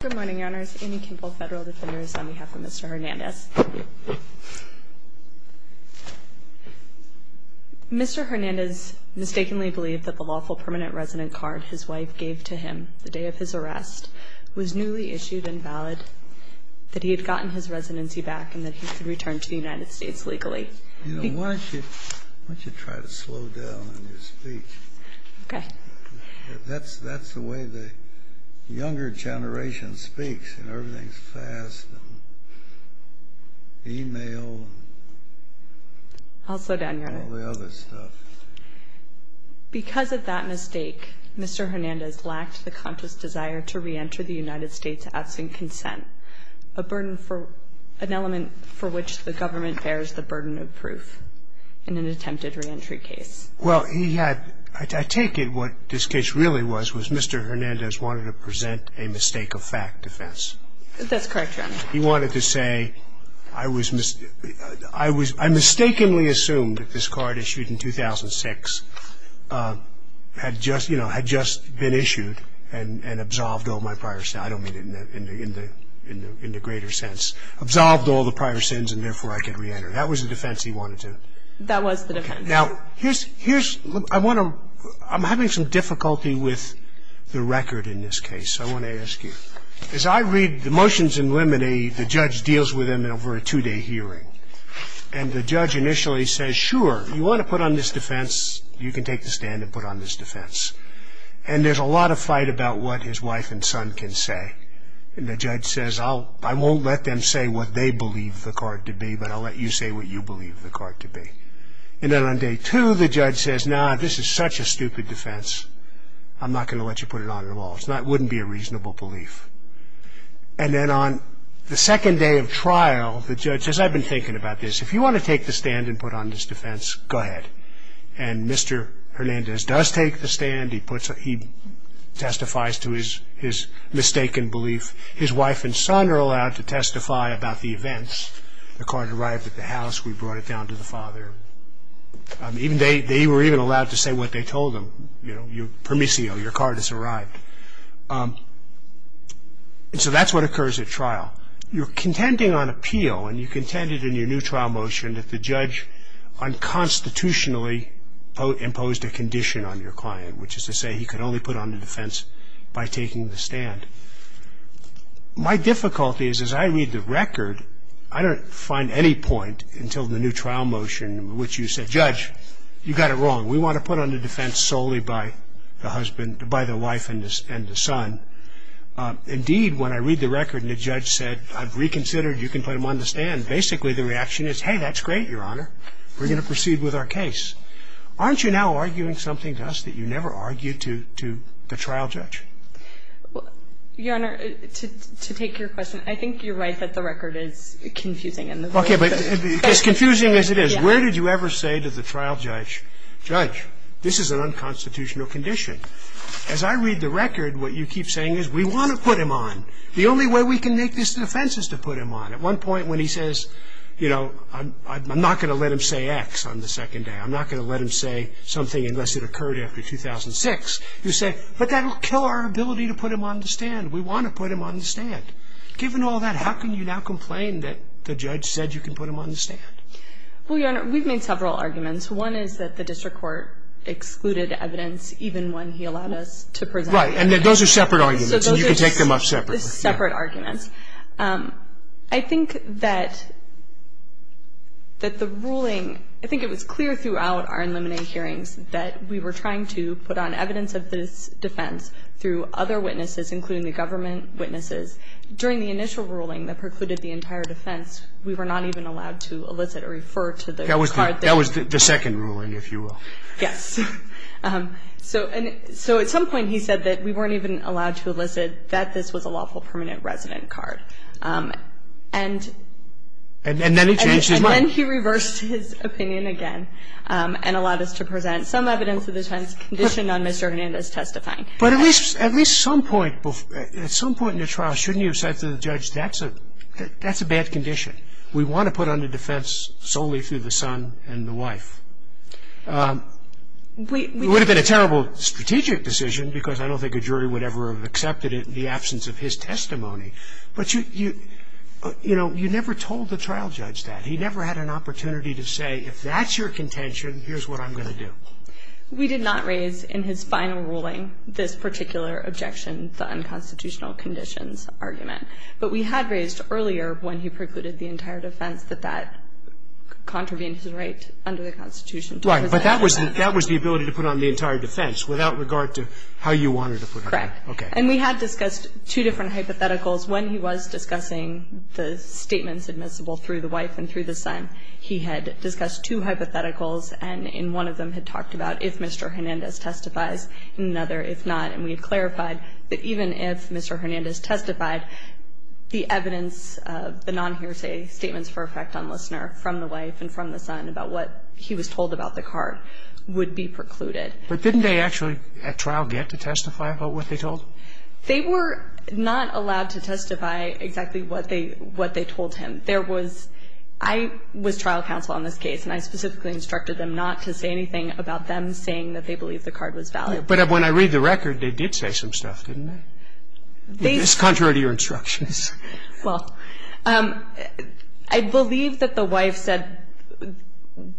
Good morning, Your Honors. Amy Kimball, Federal Defenders, on behalf of Mr. Hernandez. Mr. Hernandez mistakenly believed that the lawful permanent resident card his wife gave to him the day of his arrest was newly issued and valid, that he had gotten his residency back, and that he could return to the United States legally. Why don't you try to slow down on your speech? Okay. That's the way the younger generation speaks, and everything's fast, and email, and all the other stuff. I'll slow down, Your Honor. Because of that mistake, Mr. Hernandez lacked the conscious desire to reenter the United States asking consent, an element for which the government bears the burden of proof in an attempted reentry case. Well, he had – I take it what this case really was, was Mr. Hernandez wanted to present a mistake-of-fact defense. That's correct, Your Honor. He wanted to say, I was – I mistakenly assumed that this card issued in 2006 had just, you know, had just been issued and absolved all my prior – I don't mean it in the greater sense – absolved all the prior sins, and therefore I could reenter. That was the defense he wanted to – That was the defense. Now, here's – I want to – I'm having some difficulty with the record in this case, so I want to ask you. As I read the motions in limine, the judge deals with them over a two-day hearing. And the judge initially says, sure, you want to put on this defense, you can take the stand and put on this defense. And there's a lot of fight about what his wife and son can say. And the judge says, I won't let them say what they believe the card to be, but I'll let you say what you believe the card to be. And then on day two, the judge says, no, this is such a stupid defense. I'm not going to let you put it on at all. It's not – it wouldn't be a reasonable belief. And then on the second day of trial, the judge says, I've been thinking about this. If you want to take the stand and put on this defense, go ahead. And Mr. Hernandez does take the stand. He puts – he testifies to his mistaken belief. His wife and son are allowed to testify about the events. The card arrived at the house. We brought it down to the father. They were even allowed to say what they told them, you know, permissio, your card has arrived. And so that's what occurs at trial. You're contending on appeal, and you contended in your new trial motion that the judge unconstitutionally imposed a condition on your client, which is to say he could only put on the defense by taking the stand. My difficulty is as I read the record, I don't find any point until the new trial motion in which you said, Judge, you got it wrong. We want to put on the defense solely by the husband – by the wife and the son. Indeed, when I read the record and the judge said, I've reconsidered, you can put him on the stand, basically the reaction is, hey, that's great, Your Honor. We're going to proceed with our case. Aren't you now arguing something to us that you never argued to the trial judge? Your Honor, to take your question, I think you're right that the record is confusing. Okay, but as confusing as it is, where did you ever say to the trial judge, Judge, this is an unconstitutional condition. As I read the record, what you keep saying is we want to put him on. The only way we can make this defense is to put him on. At one point when he says, you know, I'm not going to let him say X on the second day. I'm not going to let him say something unless it occurred after 2006. You say, but that will kill our ability to put him on the stand. We want to put him on the stand. Given all that, how can you now complain that the judge said you can put him on the stand? Well, Your Honor, we've made several arguments. One is that the district court excluded evidence even when he allowed us to present it. Right, and those are separate arguments, and you can take them off separately. Those are separate arguments. I think that the ruling – I think it was clear throughout our eliminated hearings that we were trying to put on evidence of this defense through other witnesses, including the government witnesses. During the initial ruling that precluded the entire defense, we were not even allowed to elicit or refer to the card. That was the second ruling, if you will. Yes. So at some point he said that we weren't even allowed to elicit that this was a lawful permanent resident card. And then he changed his mind. He said that we weren't even allowed to elicit that this was a lawful permanent resident card. And then he changed his mind again and allowed us to present some evidence of the defense conditioned on Mr. Hernandez testifying. But at least at some point in the trial, shouldn't you have said to the judge that's a bad condition? We want to put on the defense solely through the son and the wife. It would have been a terrible strategic decision because I don't think a jury would ever have accepted it in the absence of his testimony. But, you know, you never told the trial judge that. He never had an opportunity to say if that's your contention, here's what I'm going to do. We did not raise in his final ruling this particular objection, the unconstitutional conditions argument. But we had raised earlier when he precluded the entire defense that that contravened his right under the Constitution. Right. But that was the ability to put on the entire defense without regard to how you wanted to put it on. Correct. Okay. And we had discussed two different hypotheticals. When he was discussing the statements admissible through the wife and through the son, he had discussed two hypotheticals and in one of them had talked about if Mr. Hernandez testifies, in another if not. And we had clarified that even if Mr. Hernandez testified, the evidence, the non-hearsay statements for effect on listener from the wife and from the son about what he was told about the card would be precluded. But didn't they actually at trial get to testify about what they told him? They were not allowed to testify exactly what they told him. There was – I was trial counsel on this case and I specifically instructed them not to say anything about them saying that they believe the card was valid. But when I read the record, they did say some stuff, didn't they? They – It's contrary to your instructions. Well, I believe that the wife said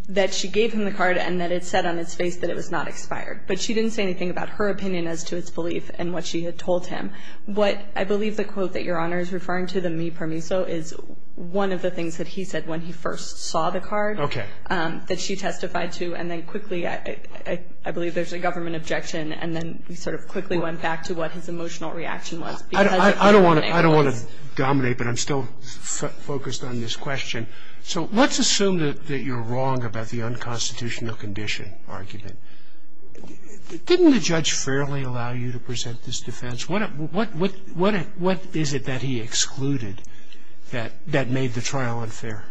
that she gave him the card and that it said on its face that it was not expired. But she didn't say anything about her opinion as to its belief and what she had told him. What – I believe the quote that Your Honor is referring to, the me permiso, is one of the things that he said when he first saw the card. Okay. That she testified to and then quickly – I believe there's a government objection and then we sort of quickly went back to what his emotional reaction was. I don't want to dominate, but I'm still focused on this question. So let's assume that you're wrong about the unconstitutional condition argument. Didn't the judge fairly allow you to present this defense? What is it that he excluded that made the trial unfair?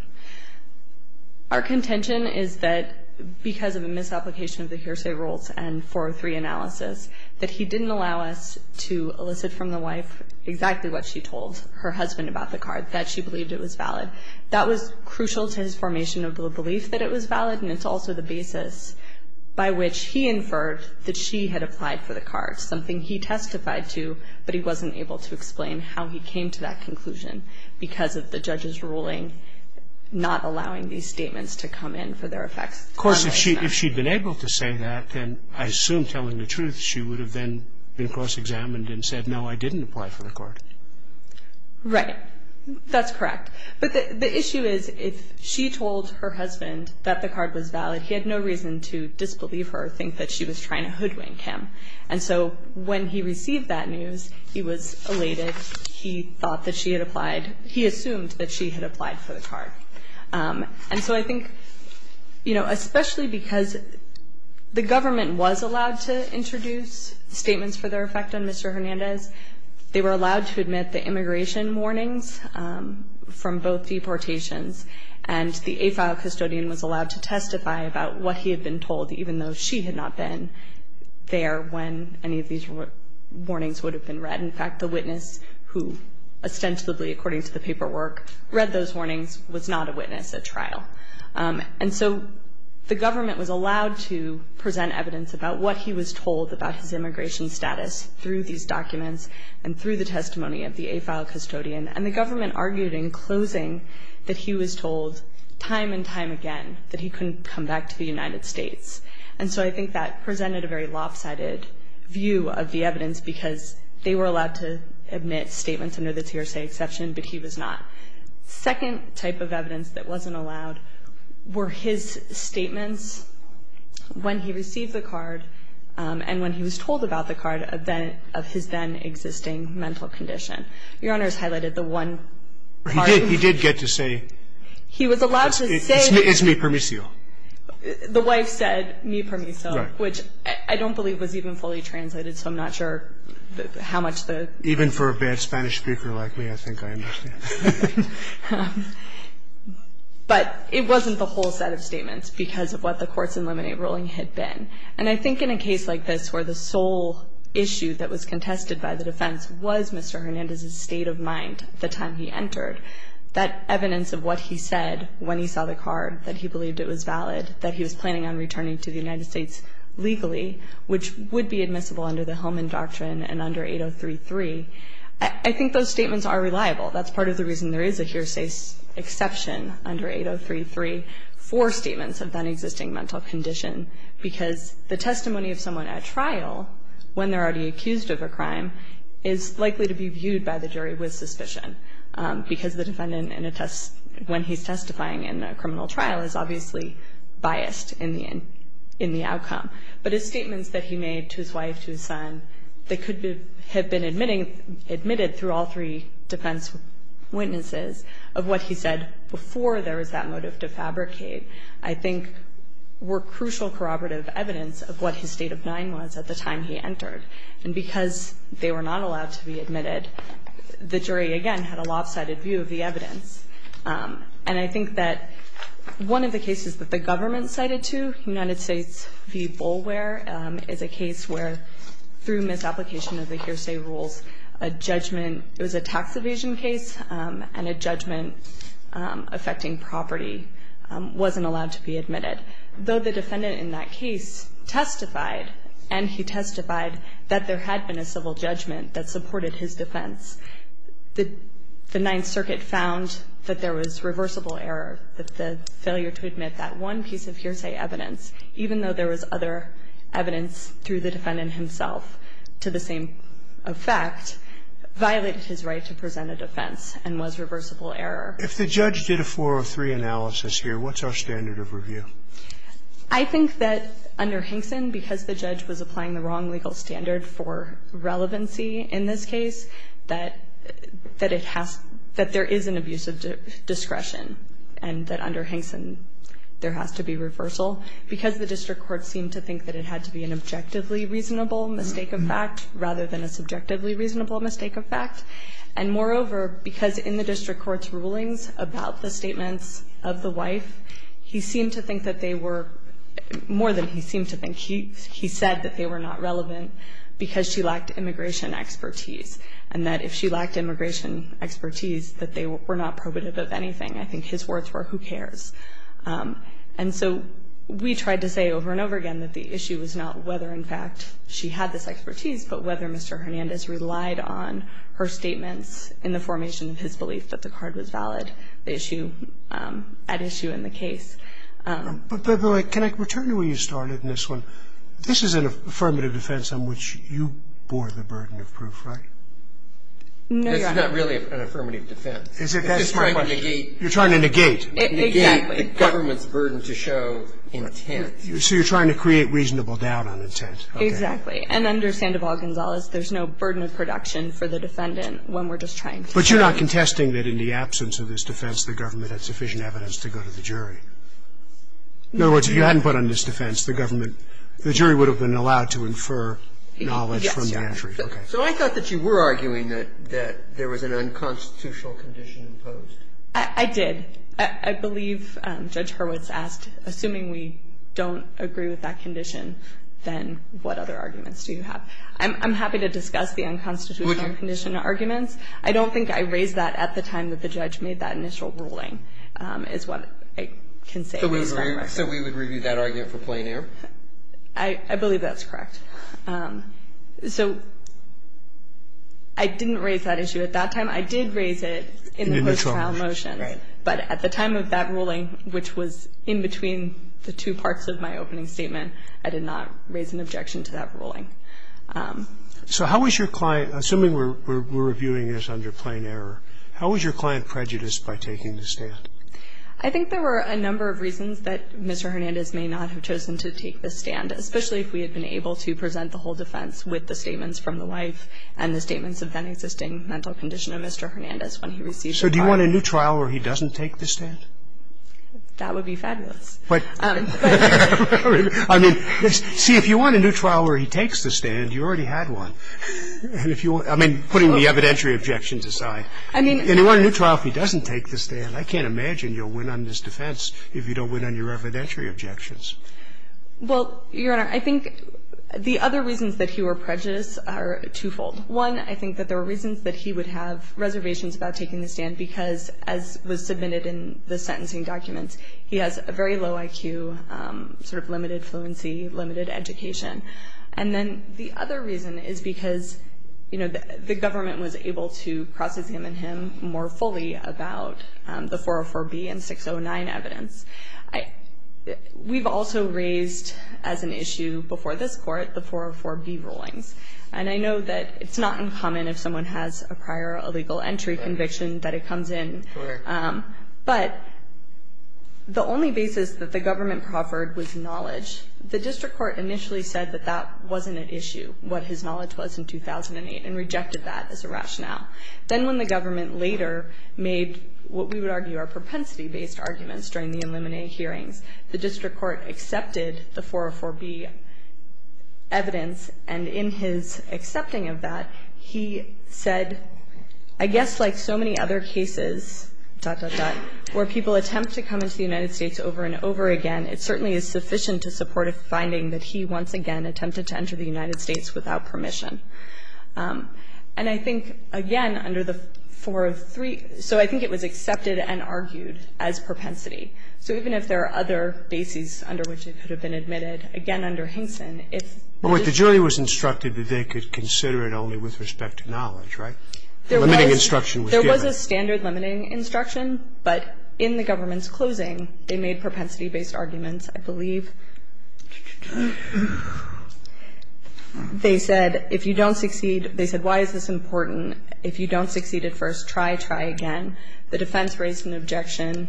Our contention is that because of a misapplication of the hearsay rules and 403 analysis, that he didn't allow us to elicit from the wife exactly what she told her husband about the card, that she believed it was valid. That was crucial to his formation of the belief that it was valid, and it's also the basis by which he inferred that she had applied for the card, something he testified to, but he wasn't able to explain how he came to that conclusion because of the judge's ruling not allowing these statements to come in for their effects. Of course, if she had been able to say that, then I assume telling the truth she would have then been cross-examined and said, no, I didn't apply for the card. Right. That's correct. But the issue is if she told her husband that the card was valid, he had no reason to disbelieve her or think that she was trying to hoodwink him. And so when he received that news, he was elated. He thought that she had applied. He assumed that she had applied for the card. And so I think, you know, especially because the government was allowed to introduce statements for their effect on Mr. Hernandez, they were allowed to admit the immigration warnings from both deportations, and the AFILE custodian was allowed to testify about what he had been told, even though she had not been there when any of these warnings would have been read. In fact, the witness who ostensibly, according to the paperwork, read those warnings was not a witness at trial. And so the government was allowed to present evidence about what he was told about his immigration status through these documents and through the testimony of the AFILE custodian. And the government argued in closing that he was told time and time again that he couldn't come back to the United States. And so I think that presented a very lopsided view of the evidence because they were allowed to admit statements under the TRSA exception, but he was not. Second type of evidence that wasn't allowed were his statements when he received the card and when he was told about the card of his then-existing mental condition. Your Honor has highlighted the one part. He did get to say... He was allowed to say... It's me permiso. The wife said, me permiso, which I don't believe was even fully translated, so I'm not sure how much the... I don't understand. But it wasn't the whole set of statements because of what the courts in Lemonade ruling had been. And I think in a case like this where the sole issue that was contested by the defense was Mr. Hernandez's state of mind the time he entered, that evidence of what he said when he saw the card, that he believed it was valid, that he was planning on returning to the United States legally, which would be admissible under the Hillman Doctrine and under 8033, I think those statements are reliable. That's part of the reason there is a hearsay exception under 8033 for statements of then-existing mental condition because the testimony of someone at trial when they're already accused of a crime is likely to be viewed by the jury with suspicion because the defendant, when he's testifying in a criminal trial, is obviously biased in the outcome. But his statements that he made to his wife, to his son, that could have been admitted through all three defense witnesses, of what he said before there was that motive to fabricate, I think were crucial corroborative evidence of what his state of mind was at the time he entered. And because they were not allowed to be admitted, the jury again had a lopsided view of the evidence. And I think that one of the cases that the government cited to, United States v. Boulware, is a case where, through misapplication of the hearsay rules, a judgment, it was a tax evasion case and a judgment affecting property wasn't allowed to be admitted. Though the defendant in that case testified, and he testified that there had been a civil judgment that supported his defense, the Ninth Circuit found that there was reversible error, that the failure to admit that one piece of hearsay evidence, even though there was other evidence through the defendant himself to the same effect, violated his right to present a defense and was reversible error. If the judge did a 403 analysis here, what's our standard of review? I think that under Hinkson, because the judge was applying the wrong legal standard for relevancy in this case, that it has, that there is an abuse of discretion, and that under Hinkson there has to be reversal. Because the district court seemed to think that it had to be an objectively reasonable mistake of fact rather than a subjectively reasonable mistake of fact. And moreover, because in the district court's rulings about the statements of the wife, he seemed to think that they were, more than he seemed to think, he said that they were not relevant because she lacked immigration expertise. And that if she lacked immigration expertise, that they were not probative of anything. I think his words were, who cares? And so we tried to say over and over again that the issue was not whether in fact she had this expertise, but whether Mr. Hernandez relied on her statements in the formation of his belief that the card was valid, the issue, at issue in the case. But, by the way, can I return to where you started in this one? This is an affirmative defense on which you bore the burden of proof, right? No, Your Honor. This is not really an affirmative defense. You're trying to negate. Negate the government's burden to show intent. So you're trying to create reasonable doubt on intent. Exactly. And under Sandoval-Gonzalez, there's no burden of production for the defendant when we're just trying to show. But you're not contesting that in the absence of this defense, the government had sufficient evidence to go to the jury. In other words, if you hadn't put on this defense, the government, the jury would have been allowed to infer knowledge from the entry. Yes, Your Honor. Okay. So I thought that you were arguing that there was an unconstitutional condition imposed. I did. I believe Judge Hurwitz asked, assuming we don't agree with that condition, then what other arguments do you have? I'm happy to discuss the unconstitutional condition arguments. I don't think I raised that at the time that the judge made that initial ruling is what I can say. So we would review that argument for plain error? I believe that's correct. So I didn't raise that issue at that time. I did raise it in the post-trial motion. Right. But at the time of that ruling, which was in between the two parts of my opening statement, I did not raise an objection to that ruling. So how was your client, assuming we're reviewing this under plain error, how was your client prejudiced by taking the stand? I think there were a number of reasons that Mr. Hernandez may not have chosen to take the stand, especially if we had been able to present the whole defense with the statements from the wife and the statements of then-existing mental condition of Mr. Hernandez when he received the trial. So do you want a new trial where he doesn't take the stand? That would be fabulous. But, I mean, see, if you want a new trial where he takes the stand, you already had one. I mean, putting the evidentiary objections aside. I mean. And you want a new trial if he doesn't take the stand. I can't imagine you'll win on this defense if you don't win on your evidentiary objections. Well, Your Honor, I think the other reasons that he were prejudiced are twofold. One, I think that there were reasons that he would have reservations about taking the stand because, as was submitted in the sentencing documents, he has a very low IQ, sort of limited fluency, limited education. And then the other reason is because, you know, the government was able to cross-examine him more fully about the 404B and 609 evidence. We've also raised as an issue before this Court the 404B rulings. And I know that it's not uncommon if someone has a prior illegal entry conviction that it comes in. Correct. But the only basis that the government proffered was knowledge. The district court initially said that that wasn't an issue, what his knowledge was in 2008, and rejected that as a rationale. Then when the government later made what we would argue are propensity-based arguments during the Illuminate hearings, the district court accepted the 404B evidence, and in his accepting of that, he said, I guess like so many other cases, dot, dot, dot, where people attempt to come into the United States over and over again, it certainly is sufficient to support a finding that he once again attempted to enter the United States without permission. And I think, again, under the 403, so I think it was accepted and argued as propensity. So even if there are other bases under which it could have been admitted, again under Hinkson, it's just... But with the jury was instructed that they could consider it only with respect to knowledge, right? The limiting instruction was given. There was a standard limiting instruction, but in the government's closing, they made propensity-based arguments. I believe they said, if you don't succeed, they said, why is this important? If you don't succeed at first, try, try again. The defense raised an objection,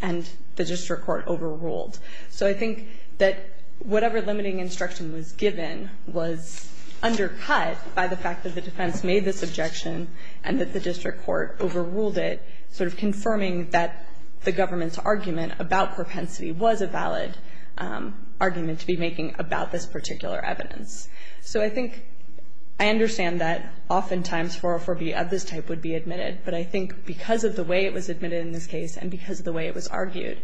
and the district court overruled. So I think that whatever limiting instruction was given was undercut by the fact that the defense made this objection and that the district court overruled it, sort of confirming that the government's argument about propensity was a valid argument to be making about this particular evidence. So I think I understand that oftentimes 404B of this type would be admitted, but I think because of the way it was admitted in this case and because of the way it was argued,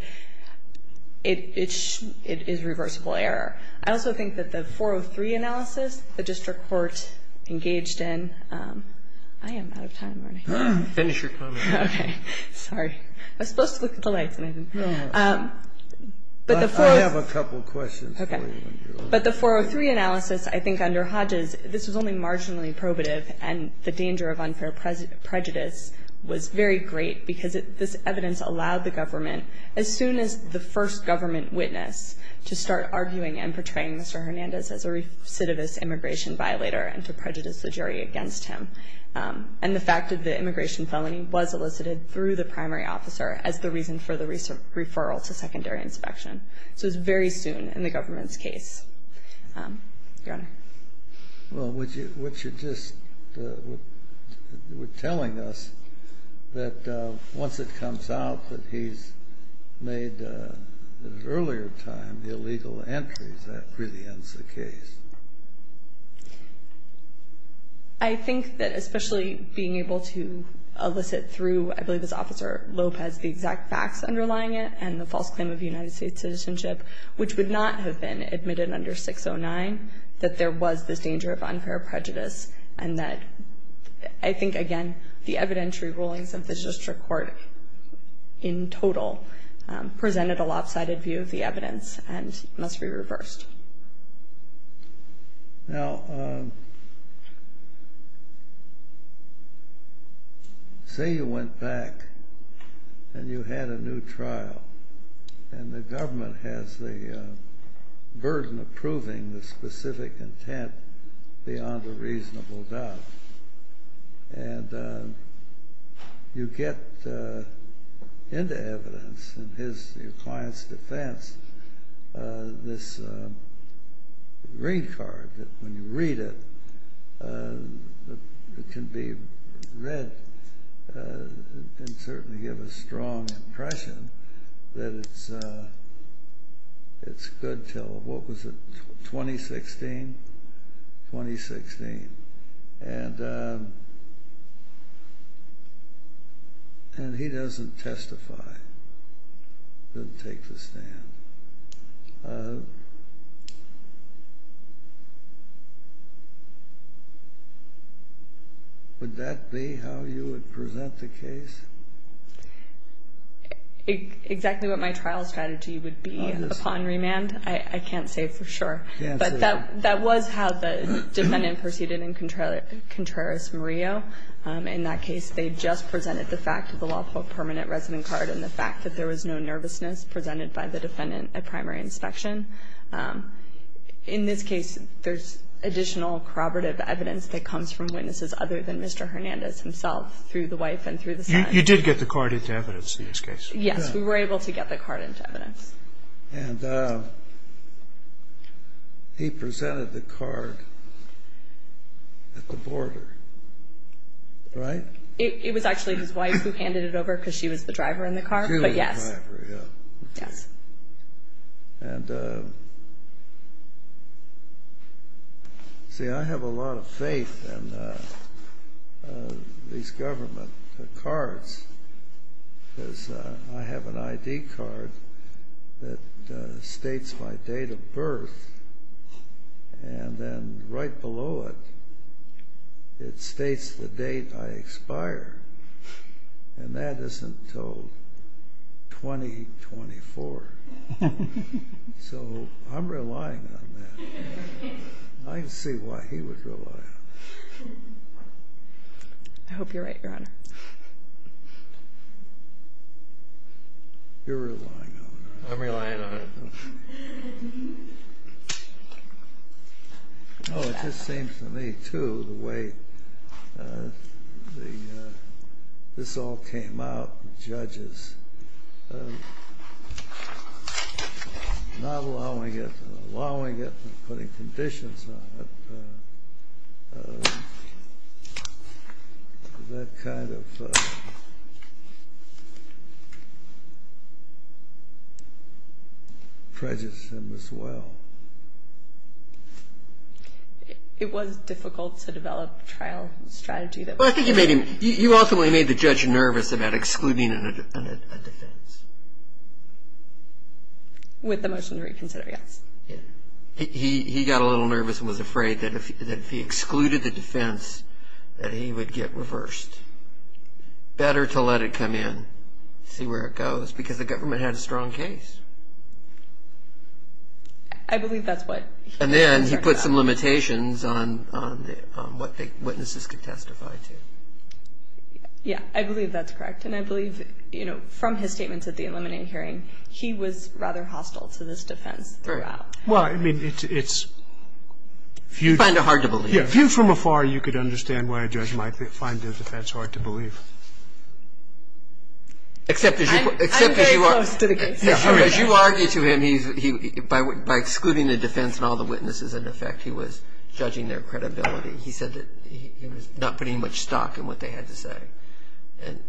it is reversible error. I also think that the 403 analysis, the district court engaged in, I am out of time. Finish your comment. Okay. Sorry. I was supposed to look at the lights. I have a couple of questions for you. But the 403 analysis, I think under Hodges, this was only marginally probative, and the danger of unfair prejudice was very great because this evidence allowed the government, as soon as the first government witness to start arguing and portraying Mr. Hernandez as a recidivist immigration violator and to prejudice the jury against him, and the fact that the immigration felony was elicited through the primary officer as the reason for the referral to secondary inspection. So it was very soon in the government's case. Your Honor. Well, what you're just telling us, that once it comes out that he's made, at an earlier time, illegal entries, that really ends the case. I think that especially being able to elicit through, I believe it's Officer Lopez, the exact facts underlying it and the false claim of United States citizenship, which would not have been admitted under 609, that there was this danger of unfair prejudice and that I think, again, the evidentiary rulings of the district court in total presented a lopsided view of the evidence and must be reversed. Now, say you went back and you had a new trial, and the government has the burden of proving the specific intent beyond a reasonable doubt, and you get into evidence in your client's defense, this green card, when you read it, it can be read and certainly give a strong impression that it's good until, what was it, 2016? 2016. And he doesn't testify, doesn't take the stand. Would that be how you would present the case? Exactly what my trial strategy would be upon remand, I can't say for sure. But that was how the defendant proceeded in Contreras-Murillo. In that case, they just presented the fact of the lawful permanent resident card and the fact that there was no nervousness presented by the defendant at primary inspection. In this case, there's additional corroborative evidence that comes from witnesses other than Mr. Hernandez himself through the wife and through the son. You did get the card into evidence in this case? Yes, we were able to get the card into evidence. And he presented the card at the border, right? It was actually his wife who handed it over because she was the driver in the car, but yes. She was the driver, yeah. Yes. And see, I have a lot of faith in these government cards because I have an ID card that states my date of birth and then right below it, it states the date I expire. And that is until 2024. So I'm relying on that. I can see why he would rely on that. I hope you're right, Your Honor. You're relying on that. I'm relying on it. Oh, it just seems to me, too, the way this all came out, the judges not allowing it and allowing it and putting conditions on it. That kind of prejudices him as well. It was difficult to develop a trial strategy. Well, I think you ultimately made the judge nervous about excluding a defense. With the motion to reconsider, yes. He got a little nervous and was afraid that if he excluded the defense, that he would get reversed. Better to let it come in, see where it goes, because the government had a strong case. I believe that's what he was talking about. And then he put some limitations on what the witnesses could testify to. Yeah, I believe that's correct. And I believe, you know, from his statements at the eliminating hearing, he was rather hostile to this defense throughout. Well, I mean, it's a few from afar you could understand why a judge might find the defense hard to believe. I'm very close to the case. As you argue to him, by excluding the defense and all the witnesses in effect, he was judging their credibility. He said that he was not putting much stock in what they had to say.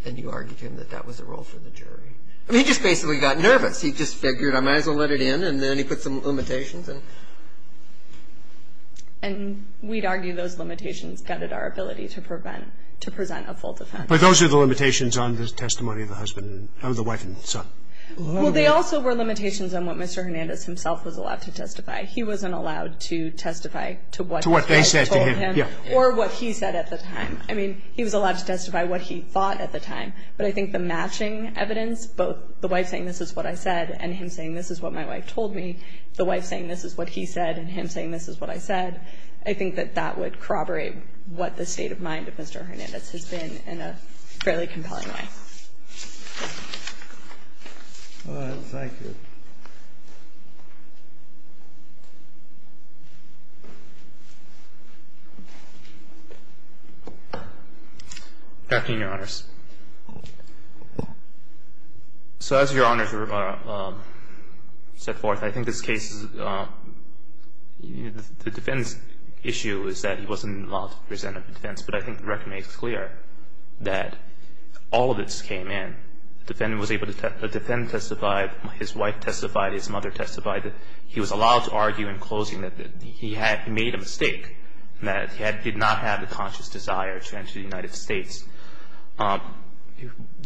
And you argued to him that that was a role for the jury. I mean, he just basically got nervous. He just figured, I might as well let it in. And then he put some limitations. And we'd argue those limitations gutted our ability to present a full defense. But those are the limitations on the testimony of the wife and son. Well, they also were limitations on what Mr. Hernandez himself was allowed to testify. He wasn't allowed to testify to what his wife told him or what he said at the time. I mean, he was allowed to testify what he thought at the time. But I think the matching evidence, both the wife saying this is what I said and him saying this is what my wife told me, the wife saying this is what he said and him saying this is what I said, I think that that would corroborate what the state of mind of Mr. Hernandez has been in a fairly compelling way. Thank you. Afternoon, Your Honors. So as Your Honors set forth, I think this case is, the defendant's issue is that he wasn't allowed to present a defense. But I think the record makes clear that all of this came in. The defendant testified. His wife testified. His mother testified. He was allowed to argue in closing that he had made a mistake, that he did not have the conscious desire to enter the United States.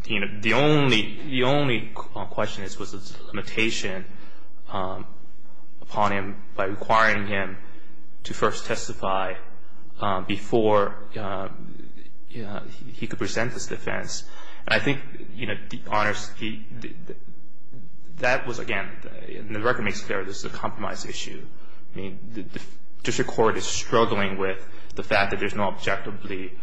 The only question was the limitation upon him by requiring him to first testify before he could present his defense. And I think, Your Honors, that was, again, the record makes clear this is a compromise issue. I mean, the district court is struggling with the fact that there's no objectively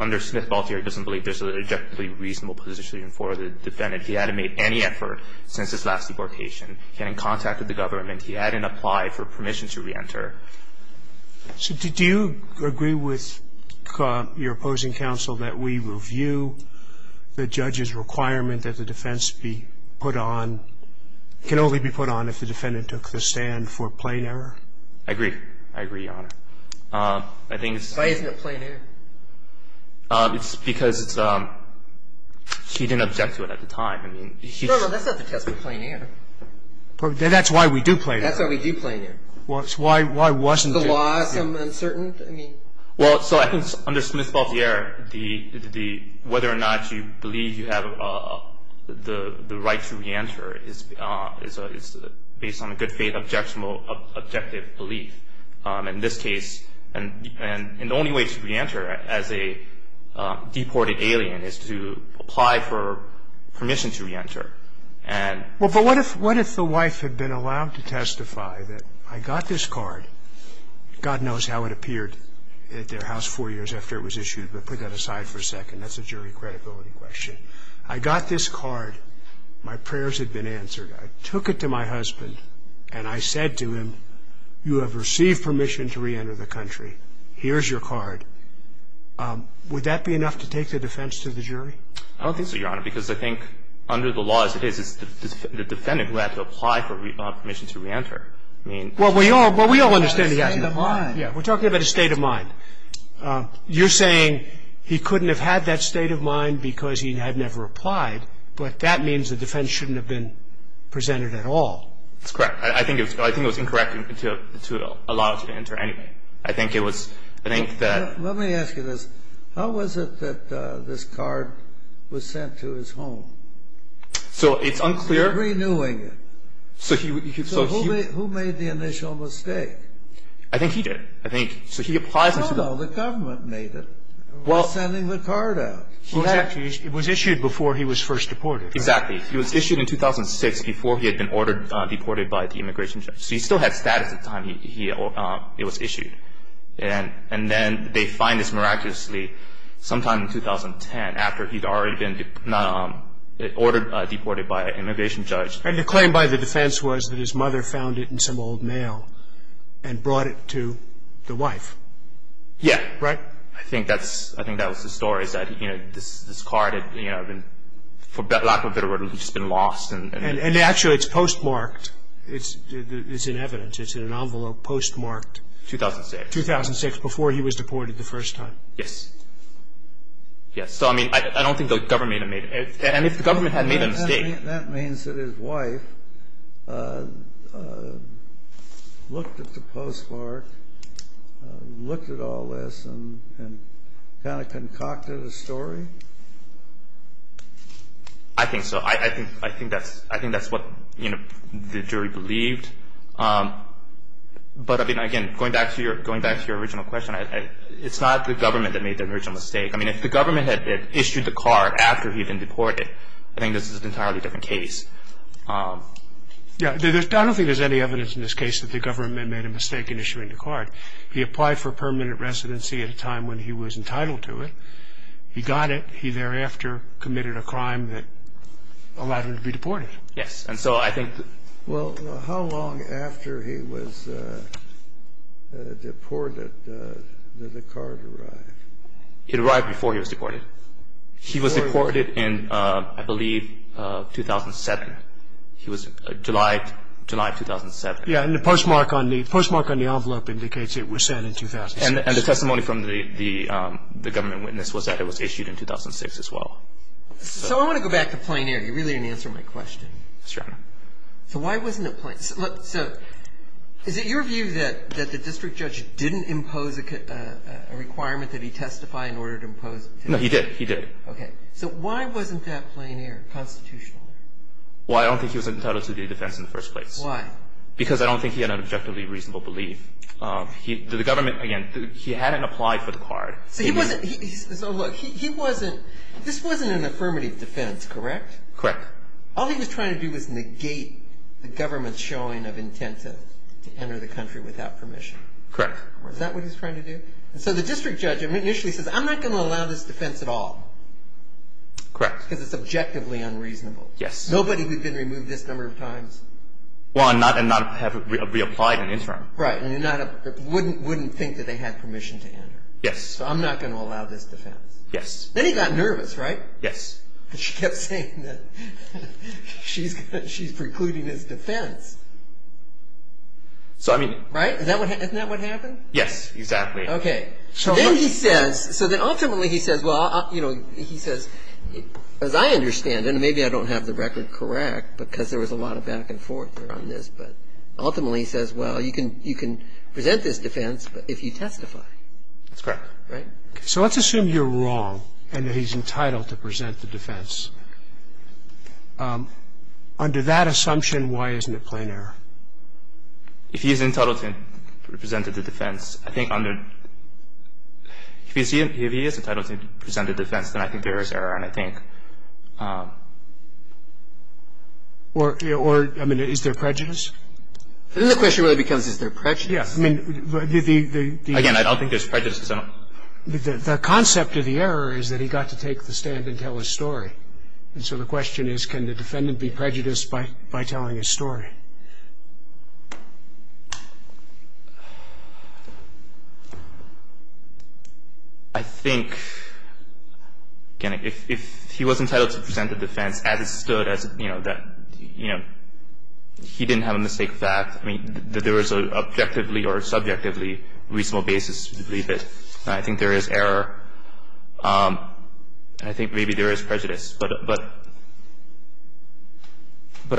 under Smith-Baltier doesn't believe there's an objectively reasonable position for the defendant. He hadn't made any effort since his last deportation. He hadn't contacted the government. He hadn't applied for permission to reenter. So do you agree with your opposing counsel that we review the judge's requirement that the defense be put on, can only be put on if the defendant took the stand for plain error? I agree. I agree, Your Honor. I think it's. Why isn't it plain error? It's because it's, she didn't object to it at the time. I mean, she. No, no, that's not the test for plain error. That's why we do plain error. That's why we do plain error. Why wasn't it? The loss, I'm uncertain. I mean. Well, so I think under Smith-Baltier, whether or not you believe you have the right to reenter is based on a good faith objective belief. In this case, and the only way to reenter as a deported alien is to apply for permission to reenter. Well, but what if the wife had been allowed to testify that I got this card, God knows how it appeared at their house four years after it was issued, but put that aside for a second. That's a jury credibility question. I got this card. My prayers had been answered. I took it to my husband, and I said to him, you have received permission to reenter the country. Here's your card. Would that be enough to take the defense to the jury? I don't think so, Your Honor. Because I think under the law as it is, it's the defendant who had to apply for permission to reenter. I mean. Well, we all understand the argument. We're talking about a state of mind. You're saying he couldn't have had that state of mind because he had never applied, but that means the defense shouldn't have been presented at all. That's correct. I think it was incorrect to allow him to enter anyway. I think it was, I think that. Let me ask you this. How was it that this card was sent to his home? So it's unclear. They're renewing it. So who made the initial mistake? I think he did. I think, so he applies. No, no, the government made it. Well. By sending the card out. It was issued before he was first deported. Exactly. It was issued in 2006 before he had been ordered, deported by the immigration judge. So he still had status at the time it was issued. And then they find this miraculously sometime in 2010 after he'd already been deported by an immigration judge. And the claim by the defense was that his mother found it in some old mail and brought it to the wife. Yeah. Right? I think that's, I think that was the story is that, you know, this card had, you know, for lack of a better word, had just been lost. And actually it's postmarked. It's in evidence. It's in an envelope postmarked. 2006. 2006 before he was deported the first time. Yes. Yes. So, I mean, I don't think the government made it. And if the government had made a mistake. That means that his wife looked at the postmark, looked at all this, and kind of concocted a story? I think so. I think that's what, you know, the jury believed. But, I mean, again, going back to your original question, it's not the government that made the original mistake. I mean, if the government had issued the card after he'd been deported, I think this is an entirely different case. Yeah, I don't think there's any evidence in this case that the government made a mistake in issuing the card. He applied for permanent residency at a time when he was entitled to it. He got it. And he thereafter committed a crime that allowed him to be deported. Yes. And so I think. Well, how long after he was deported did the card arrive? It arrived before he was deported. He was deported in, I believe, 2007. He was July of 2007. Yeah, and the postmark on the envelope indicates it was sent in 2006. And the testimony from the government witness was that it was issued in 2006 as well. So I want to go back to plein air. You really didn't answer my question. That's right. So why wasn't it plein air? Look, so is it your view that the district judge didn't impose a requirement that he testify in order to impose it? No, he did. He did. Okay. So why wasn't that plein air constitutionally? Well, I don't think he was entitled to the defense in the first place. Why? Because I don't think he had an objectively reasonable belief. The government, again, he hadn't applied for the card. So he wasn't. So look, he wasn't. This wasn't an affirmative defense, correct? Correct. All he was trying to do was negate the government's showing of intent to enter the country without permission. Correct. Is that what he was trying to do? And so the district judge initially says, I'm not going to allow this defense at all. Correct. Because it's objectively unreasonable. Yes. Nobody would have been removed this number of times. Well, and not have reapplied in the interim. Right. And wouldn't think that they had permission to enter. Yes. So I'm not going to allow this defense. Yes. Then he got nervous, right? Yes. And she kept saying that she's precluding his defense. So I mean. Right? Isn't that what happened? Yes, exactly. Okay. So then he says, so then ultimately he says, well, you know, he says, as I understand it, and maybe I don't have the record correct because there was a lot of back and forth around this, but ultimately he says, well, you can present this defense if you testify. That's correct. Right? So let's assume you're wrong and that he's entitled to present the defense. Under that assumption, why isn't it plain error? If he is entitled to present the defense, I think under... If he is entitled to present the defense, then I think there is error, and I think... Or, I mean, is there prejudice? Then the question really becomes, is there prejudice? Yes. I mean, the... Again, I don't think there's prejudice. The concept of the error is that he got to take the stand and tell his story. And so the question is, can the defendant be prejudiced by telling his story? And I think, again, if he was entitled to present the defense as it stood, as, you know, that, you know, he didn't have a mistake of fact, I mean, that there was an objectively or subjectively reasonable basis to believe it, I think there is error, and I think maybe there is prejudice. But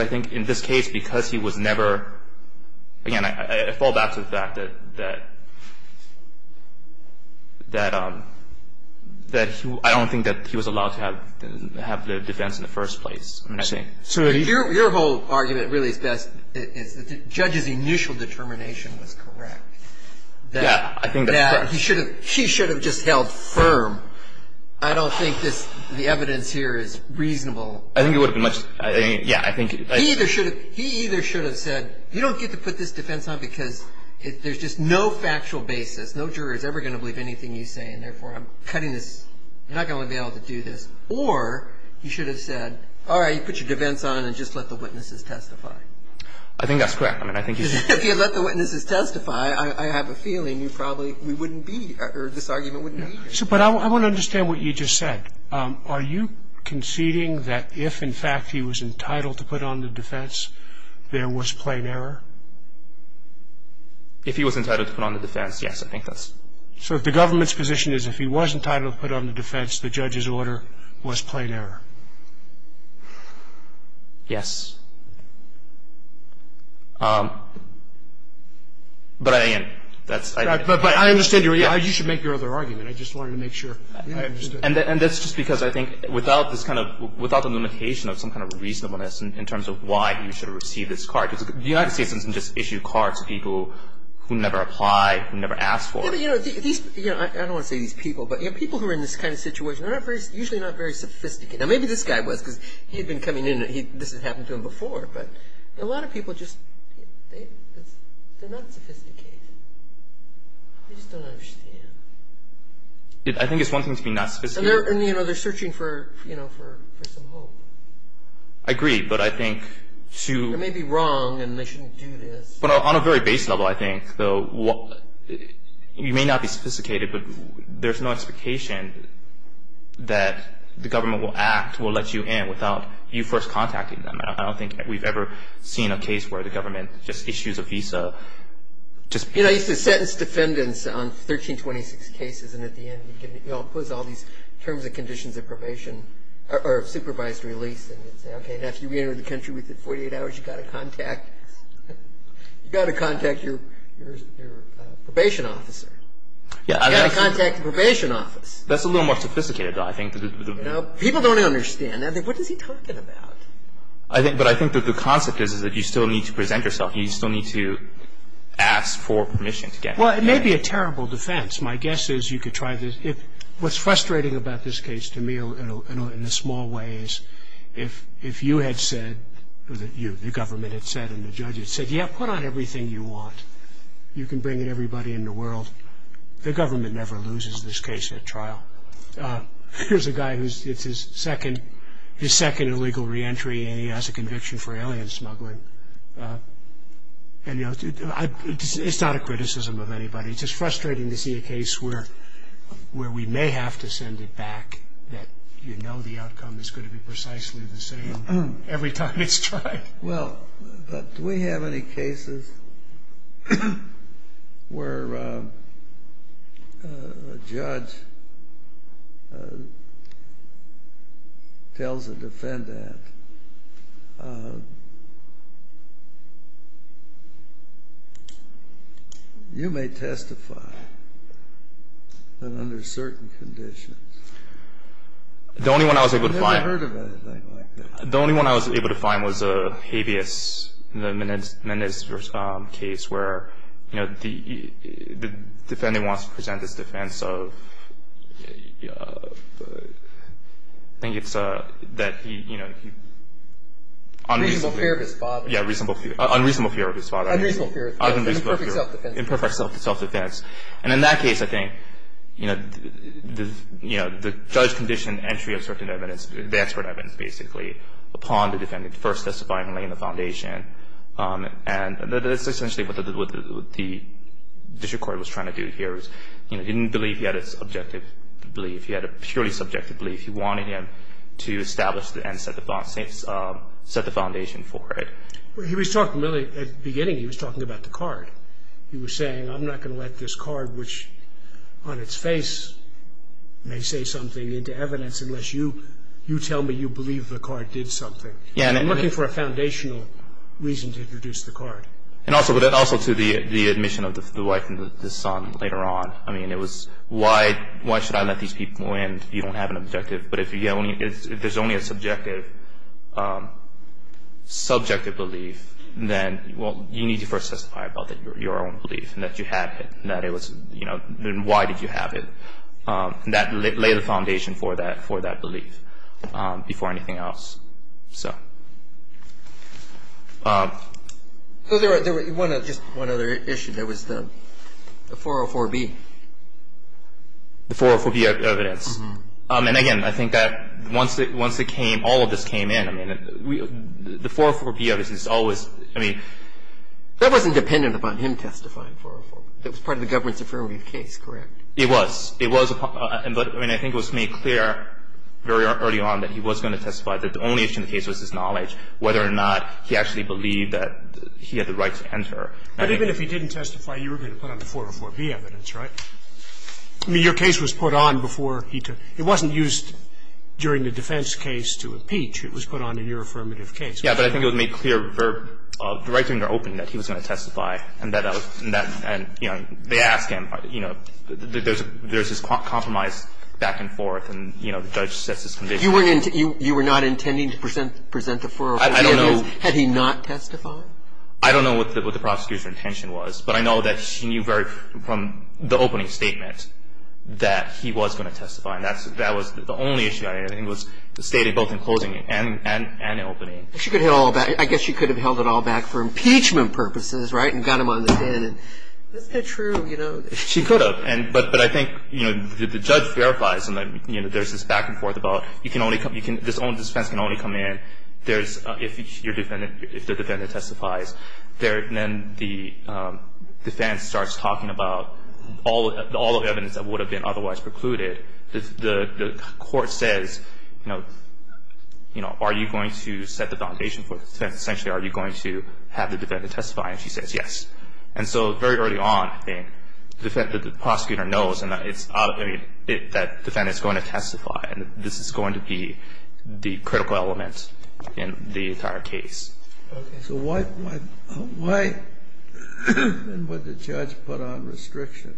I think in this case, because he was never... Again, I fall back to the fact that I don't think that he was allowed to have the defense in the first place. I'm just saying. So your whole argument really is that the judge's initial determination was correct. Yeah, I think that's correct. That he should have... She should have just held firm. I don't think the evidence here is reasonable. I think it would have been much... Yeah, I think... He either should have said, you don't get to put this defense on because there's just no factual basis. No juror is ever going to believe anything you say, and therefore I'm cutting this... You're not going to be able to do this. Or he should have said, all right, you put your defense on and just let the witnesses testify. I think that's correct. I mean, I think... If you let the witnesses testify, I have a feeling you probably... We wouldn't be... Or this argument wouldn't be here. But I want to understand what you just said. Are you conceding that if, in fact, he was entitled to put on the defense, there was plain error? If he was entitled to put on the defense, yes, I think that's... So if the government's position is if he was entitled to put on the defense, the judge's order was plain error? But, again, that's... But I understand your... You should make your other argument. I just wanted to make sure. And that's just because I think without this kind of... without the limitation of some kind of reasonableness in terms of why he should have received this card. The United States doesn't just issue cards to people who never applied, who never asked for it. I don't want to say these people, but people who are in this kind of situation are usually not very sophisticated. Now, maybe this guy was because he had been coming in. This had happened to him before. But a lot of people just, they're not sophisticated. They just don't understand. I think it's one thing to be not sophisticated. And, you know, they're searching for, you know, for some hope. I agree, but I think to... They may be wrong, and they shouldn't do this. But on a very base level, I think, though, you may not be sophisticated, but there's no expectation that the government will act, will let you in without you first contacting them. I don't think we've ever seen a case where the government just issues a visa... You know, I used to sentence defendants on 1326 cases, and at the end you all pose all these terms and conditions of probation or of supervised release. And you'd say, okay, and after you re-enter the country within 48 hours, you've got to contact... You've got to contact your probation officer. You've got to contact the probation office. That's a little more sophisticated, though, I think. You know, people don't understand. What is he talking about? But I think that the concept is that you still need to present yourself. You still need to ask for permission to get in. Well, it may be a terrible defense. My guess is you could try this... What's frustrating about this case to me, in the small ways, if you had said, or the government had said and the judges had said, yeah, put on everything you want, you can bring in everybody in the world, the government never loses this case at trial. Here's a guy who's... it's his second illegal re-entry, and he has a conviction for alien smuggling. And, you know, it's not a criticism of anybody. It's just frustrating to see a case where we may have to send it back, that you know the outcome is going to be precisely the same every time it's tried. Well, do we have any cases where a judge tells a defendant, you may testify, but under certain conditions? The only one I was able to find... I've never heard of anything like that. The only one I was able to find was a habeas, the meniscus case, where the defendant wants to present his defense of... I think it's that he... Unreasonable fear of his father. Yeah, unreasonable fear of his father. Unreasonable fear of his father. In perfect self-defense. In perfect self-defense. And in that case, I think, you know, the judge conditioned entry of certain evidence, the expert evidence basically, upon the defendant first testifying and laying the foundation. And that's essentially what the district court was trying to do here. It didn't believe he had a subjective belief. He had a purely subjective belief. He wanted him to establish and set the foundation for it. He was talking really... At the beginning, he was talking about the card. He was saying, I'm not going to let this card, which on its face may say something, into evidence unless you tell me you believe the card did something. I'm looking for a foundational reason to introduce the card. And also to the admission of the wife and the son later on. I mean, it was, why should I let these people in if you don't have an objective? But if there's only a subjective belief, then you need to first testify about your own belief and that you have it. And why did you have it? And lay the foundation for that belief before anything else. So... So there was just one other issue. There was the 404B. The 404B evidence. And again, I think that once all of this came in, the 404B evidence is always, I mean... That wasn't dependent upon him testifying, 404B. That was part of the government's affirmative case, correct? It was. It was. But, I mean, I think it was made clear very early on that he was going to testify, that the only issue in the case was his knowledge, whether or not he actually believed that he had the right to enter. But even if he didn't testify, you were going to put on the 404B evidence, right? I mean, your case was put on before he took. It wasn't used during the defense case to impeach. It was put on in your affirmative case. Yeah, but I think it was made clear right during the opening that he was going to testify. And that, you know, they asked him. You know, there's this compromise back and forth, and, you know, the judge sets his conviction. You were not intending to present the 404B evidence? I don't know. Had he not testified? I don't know what the prosecutor's intention was, but I know that she knew from the opening statement that he was going to testify. And that was the only issue I had. It was stated both in closing and in opening. She could have held it all back. I guess she could have held it all back for impeachment purposes, right, and got him on the pen. Isn't it true, you know? She could have. But I think, you know, the judge verifies. And, you know, there's this back and forth about this defense can only come in if the defendant testifies. And then the defense starts talking about all of the evidence that would have been otherwise precluded. The court says, you know, are you going to set the foundation for the defense? Essentially, are you going to have the defendant testify? And she says yes. And so very early on, I think, the fact that the prosecutor knows that the defendant is going to testify, this is going to be the critical element in the entire case. Okay. So why then would the judge put on restrictions?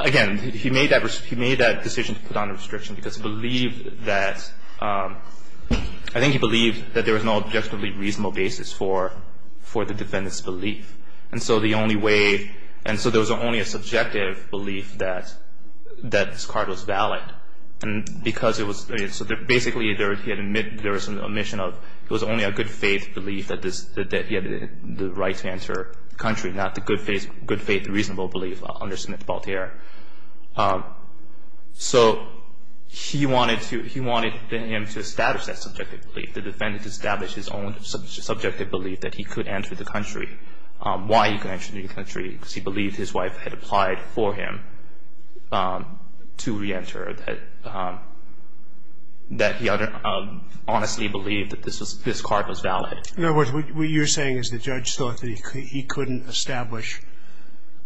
Again, he made that decision to put on a restriction because he believed that ‑‑ I think he believed that there was no objectively reasonable basis for the defendant's belief. And so the only way ‑‑ and so there was only a subjective belief that this card was valid. And because it was ‑‑ so basically there was an omission of it was only a good faith belief that he had the right to enter the country, not the good faith reasonable belief under Smith-Baltier. So he wanted him to establish that subjective belief. The defendant established his own subjective belief that he could enter the country. Why he could enter the country, because he believed his wife had applied for him to reenter, that he honestly believed that this card was valid. In other words, what you're saying is the judge thought that he couldn't establish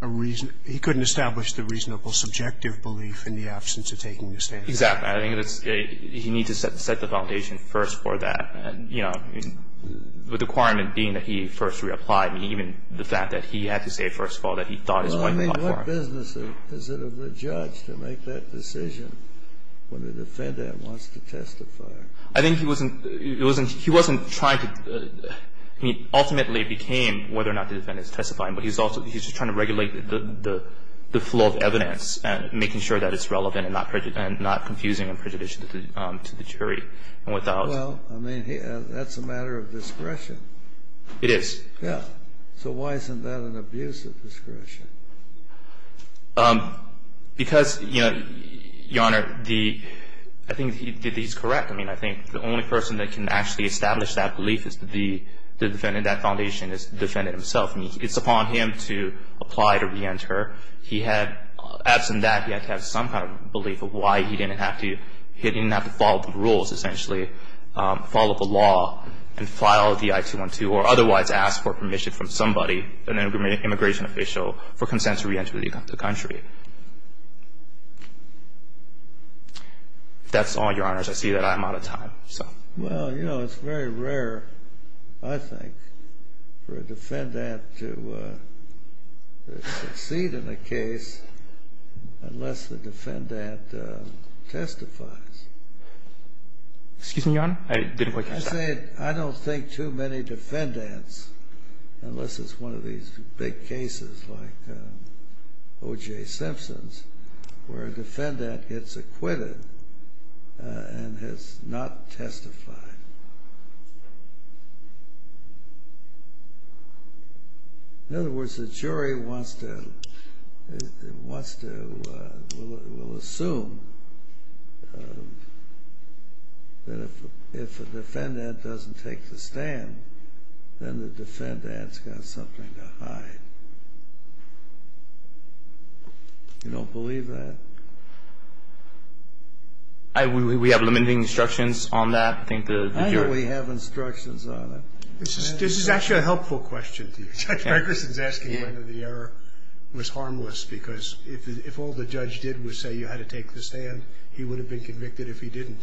a reason ‑‑ he couldn't establish the reasonable subjective belief in the absence of taking the stand. Exactly. I think he needs to set the foundation first for that. The requirement being that he first reapplied, even the fact that he had to say first of all that he thought his wife had applied for him. Well, I mean, what business is it of the judge to make that decision when the defendant wants to testify? I think he wasn't trying to ‑‑ he ultimately became whether or not the defendant is testifying, but he's also trying to regulate the flow of evidence and making sure that it's relevant and not confusing and prejudicial to the jury. Well, I mean, that's a matter of discretion. It is. Yeah. So why isn't that an abuse of discretion? Because, Your Honor, I think he's correct. I mean, I think the only person that can actually establish that belief is the defendant. That foundation is the defendant himself. I mean, it's upon him to apply to reenter. Absent that, he had to have some kind of belief of why he didn't have to follow the rules, essentially, follow the law and file the I-212 or otherwise ask for permission from somebody, an immigration official, for consent to reenter the country. That's all, Your Honors. I see that I'm out of time. Well, you know, it's very rare, I think, for a defendant to succeed in a case unless the defendant testifies. Excuse me, Your Honor. I didn't quite catch that. I don't think too many defendants, unless it's one of these big cases like O.J. Simpson's, where a defendant gets acquitted and has not testified. In other words, the jury wants to, will assume that if a defendant doesn't take the stand, then the defendant's got something to hide. I don't believe that. We have limiting instructions on that. I know we have instructions on it. This is actually a helpful question to you. Judge Gregerson is asking whether the error was harmless because if all the judge did was say you had to take the stand, he would have been convicted if he didn't.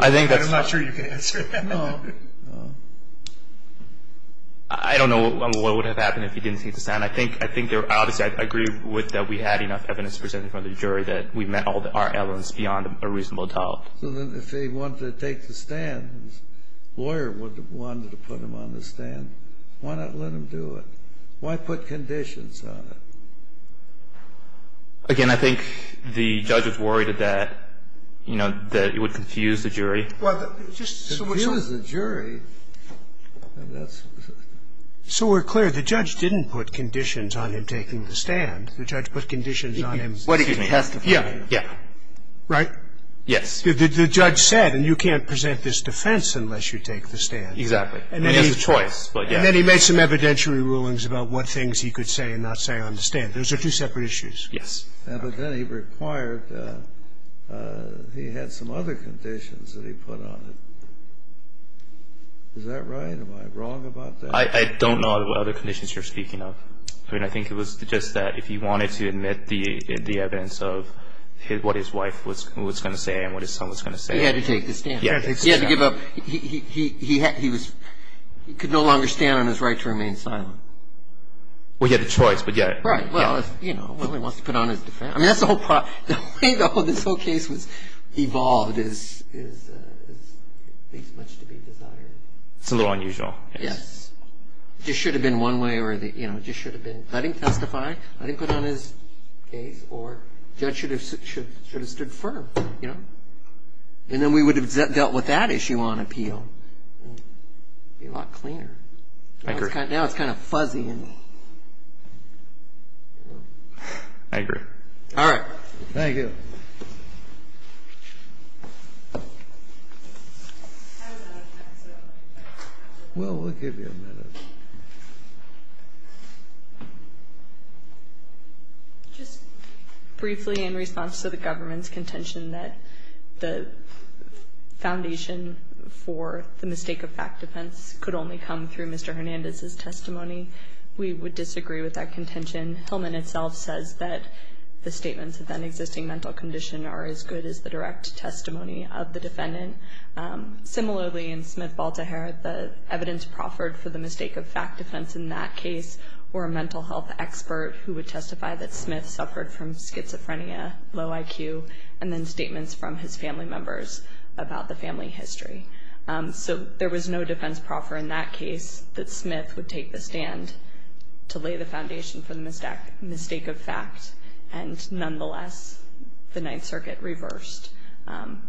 I'm not sure you can answer that. No. I don't know what would have happened if he didn't take the stand. I think, obviously, I agree with that we had enough evidence presented for the jury that we met all our elements beyond a reasonable doubt. So then if he wanted to take the stand, his lawyer wanted to put him on the stand, why not let him do it? Why put conditions on it? Again, I think the judge was worried that it would confuse the jury. Well, just so we're clear, the judge didn't put conditions on him taking the stand. The judge put conditions on him. What if he testified? Yeah. Right? Yes. The judge said, and you can't present this defense unless you take the stand. Exactly. He has a choice, but yeah. And then he made some evidentiary rulings about what things he could say and not say on the stand. Those are two separate issues. Yes. But then he required he had some other conditions that he put on it. Is that right? Am I wrong about that? I don't know what other conditions you're speaking of. I mean, I think it was just that if he wanted to admit the evidence of what his wife was going to say and what his son was going to say. He had to take the stand. He had to take the stand. He had to give up. He could no longer stand on his right to remain silent. Well, he had a choice, but yeah. Right. Well, you know, he wants to put on his defense. I mean, that's the whole problem. The way this whole case has evolved is it takes much to be desired. It's a little unusual. Yes. It just should have been one way or the other. It just should have been let him testify, let him put on his case, or the judge should have stood firm, you know? And then we would have dealt with that issue on appeal and it would be a lot cleaner. I agree. Now it's kind of fuzzy. I agree. All right. Thank you. Will, we'll give you a minute. Just briefly in response to the government's contention that the foundation for the mistake of fact defense could only come through Mr. Hernandez's testimony, we would disagree with that contention. Hillman itself says that the statements of an existing mental condition are as good as the direct testimony of the defendant. Similarly, in Smith-Baltahar, the evidence proffered for the mistake of fact defense in that case were a mental health expert who would testify that Smith suffered from schizophrenia, low IQ, and then statements from his family members about the family history. So there was no defense proffer in that case that Smith would take the stand to lay the foundation for the mistake of fact and nonetheless the Ninth Circuit reversed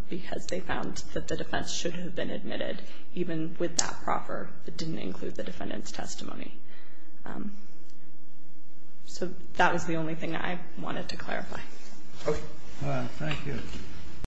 because they found that the defense should have been admitted, even with that proffer that didn't include the defendant's testimony. So that was the only thing I wanted to clarify. Okay. All right. Thank you.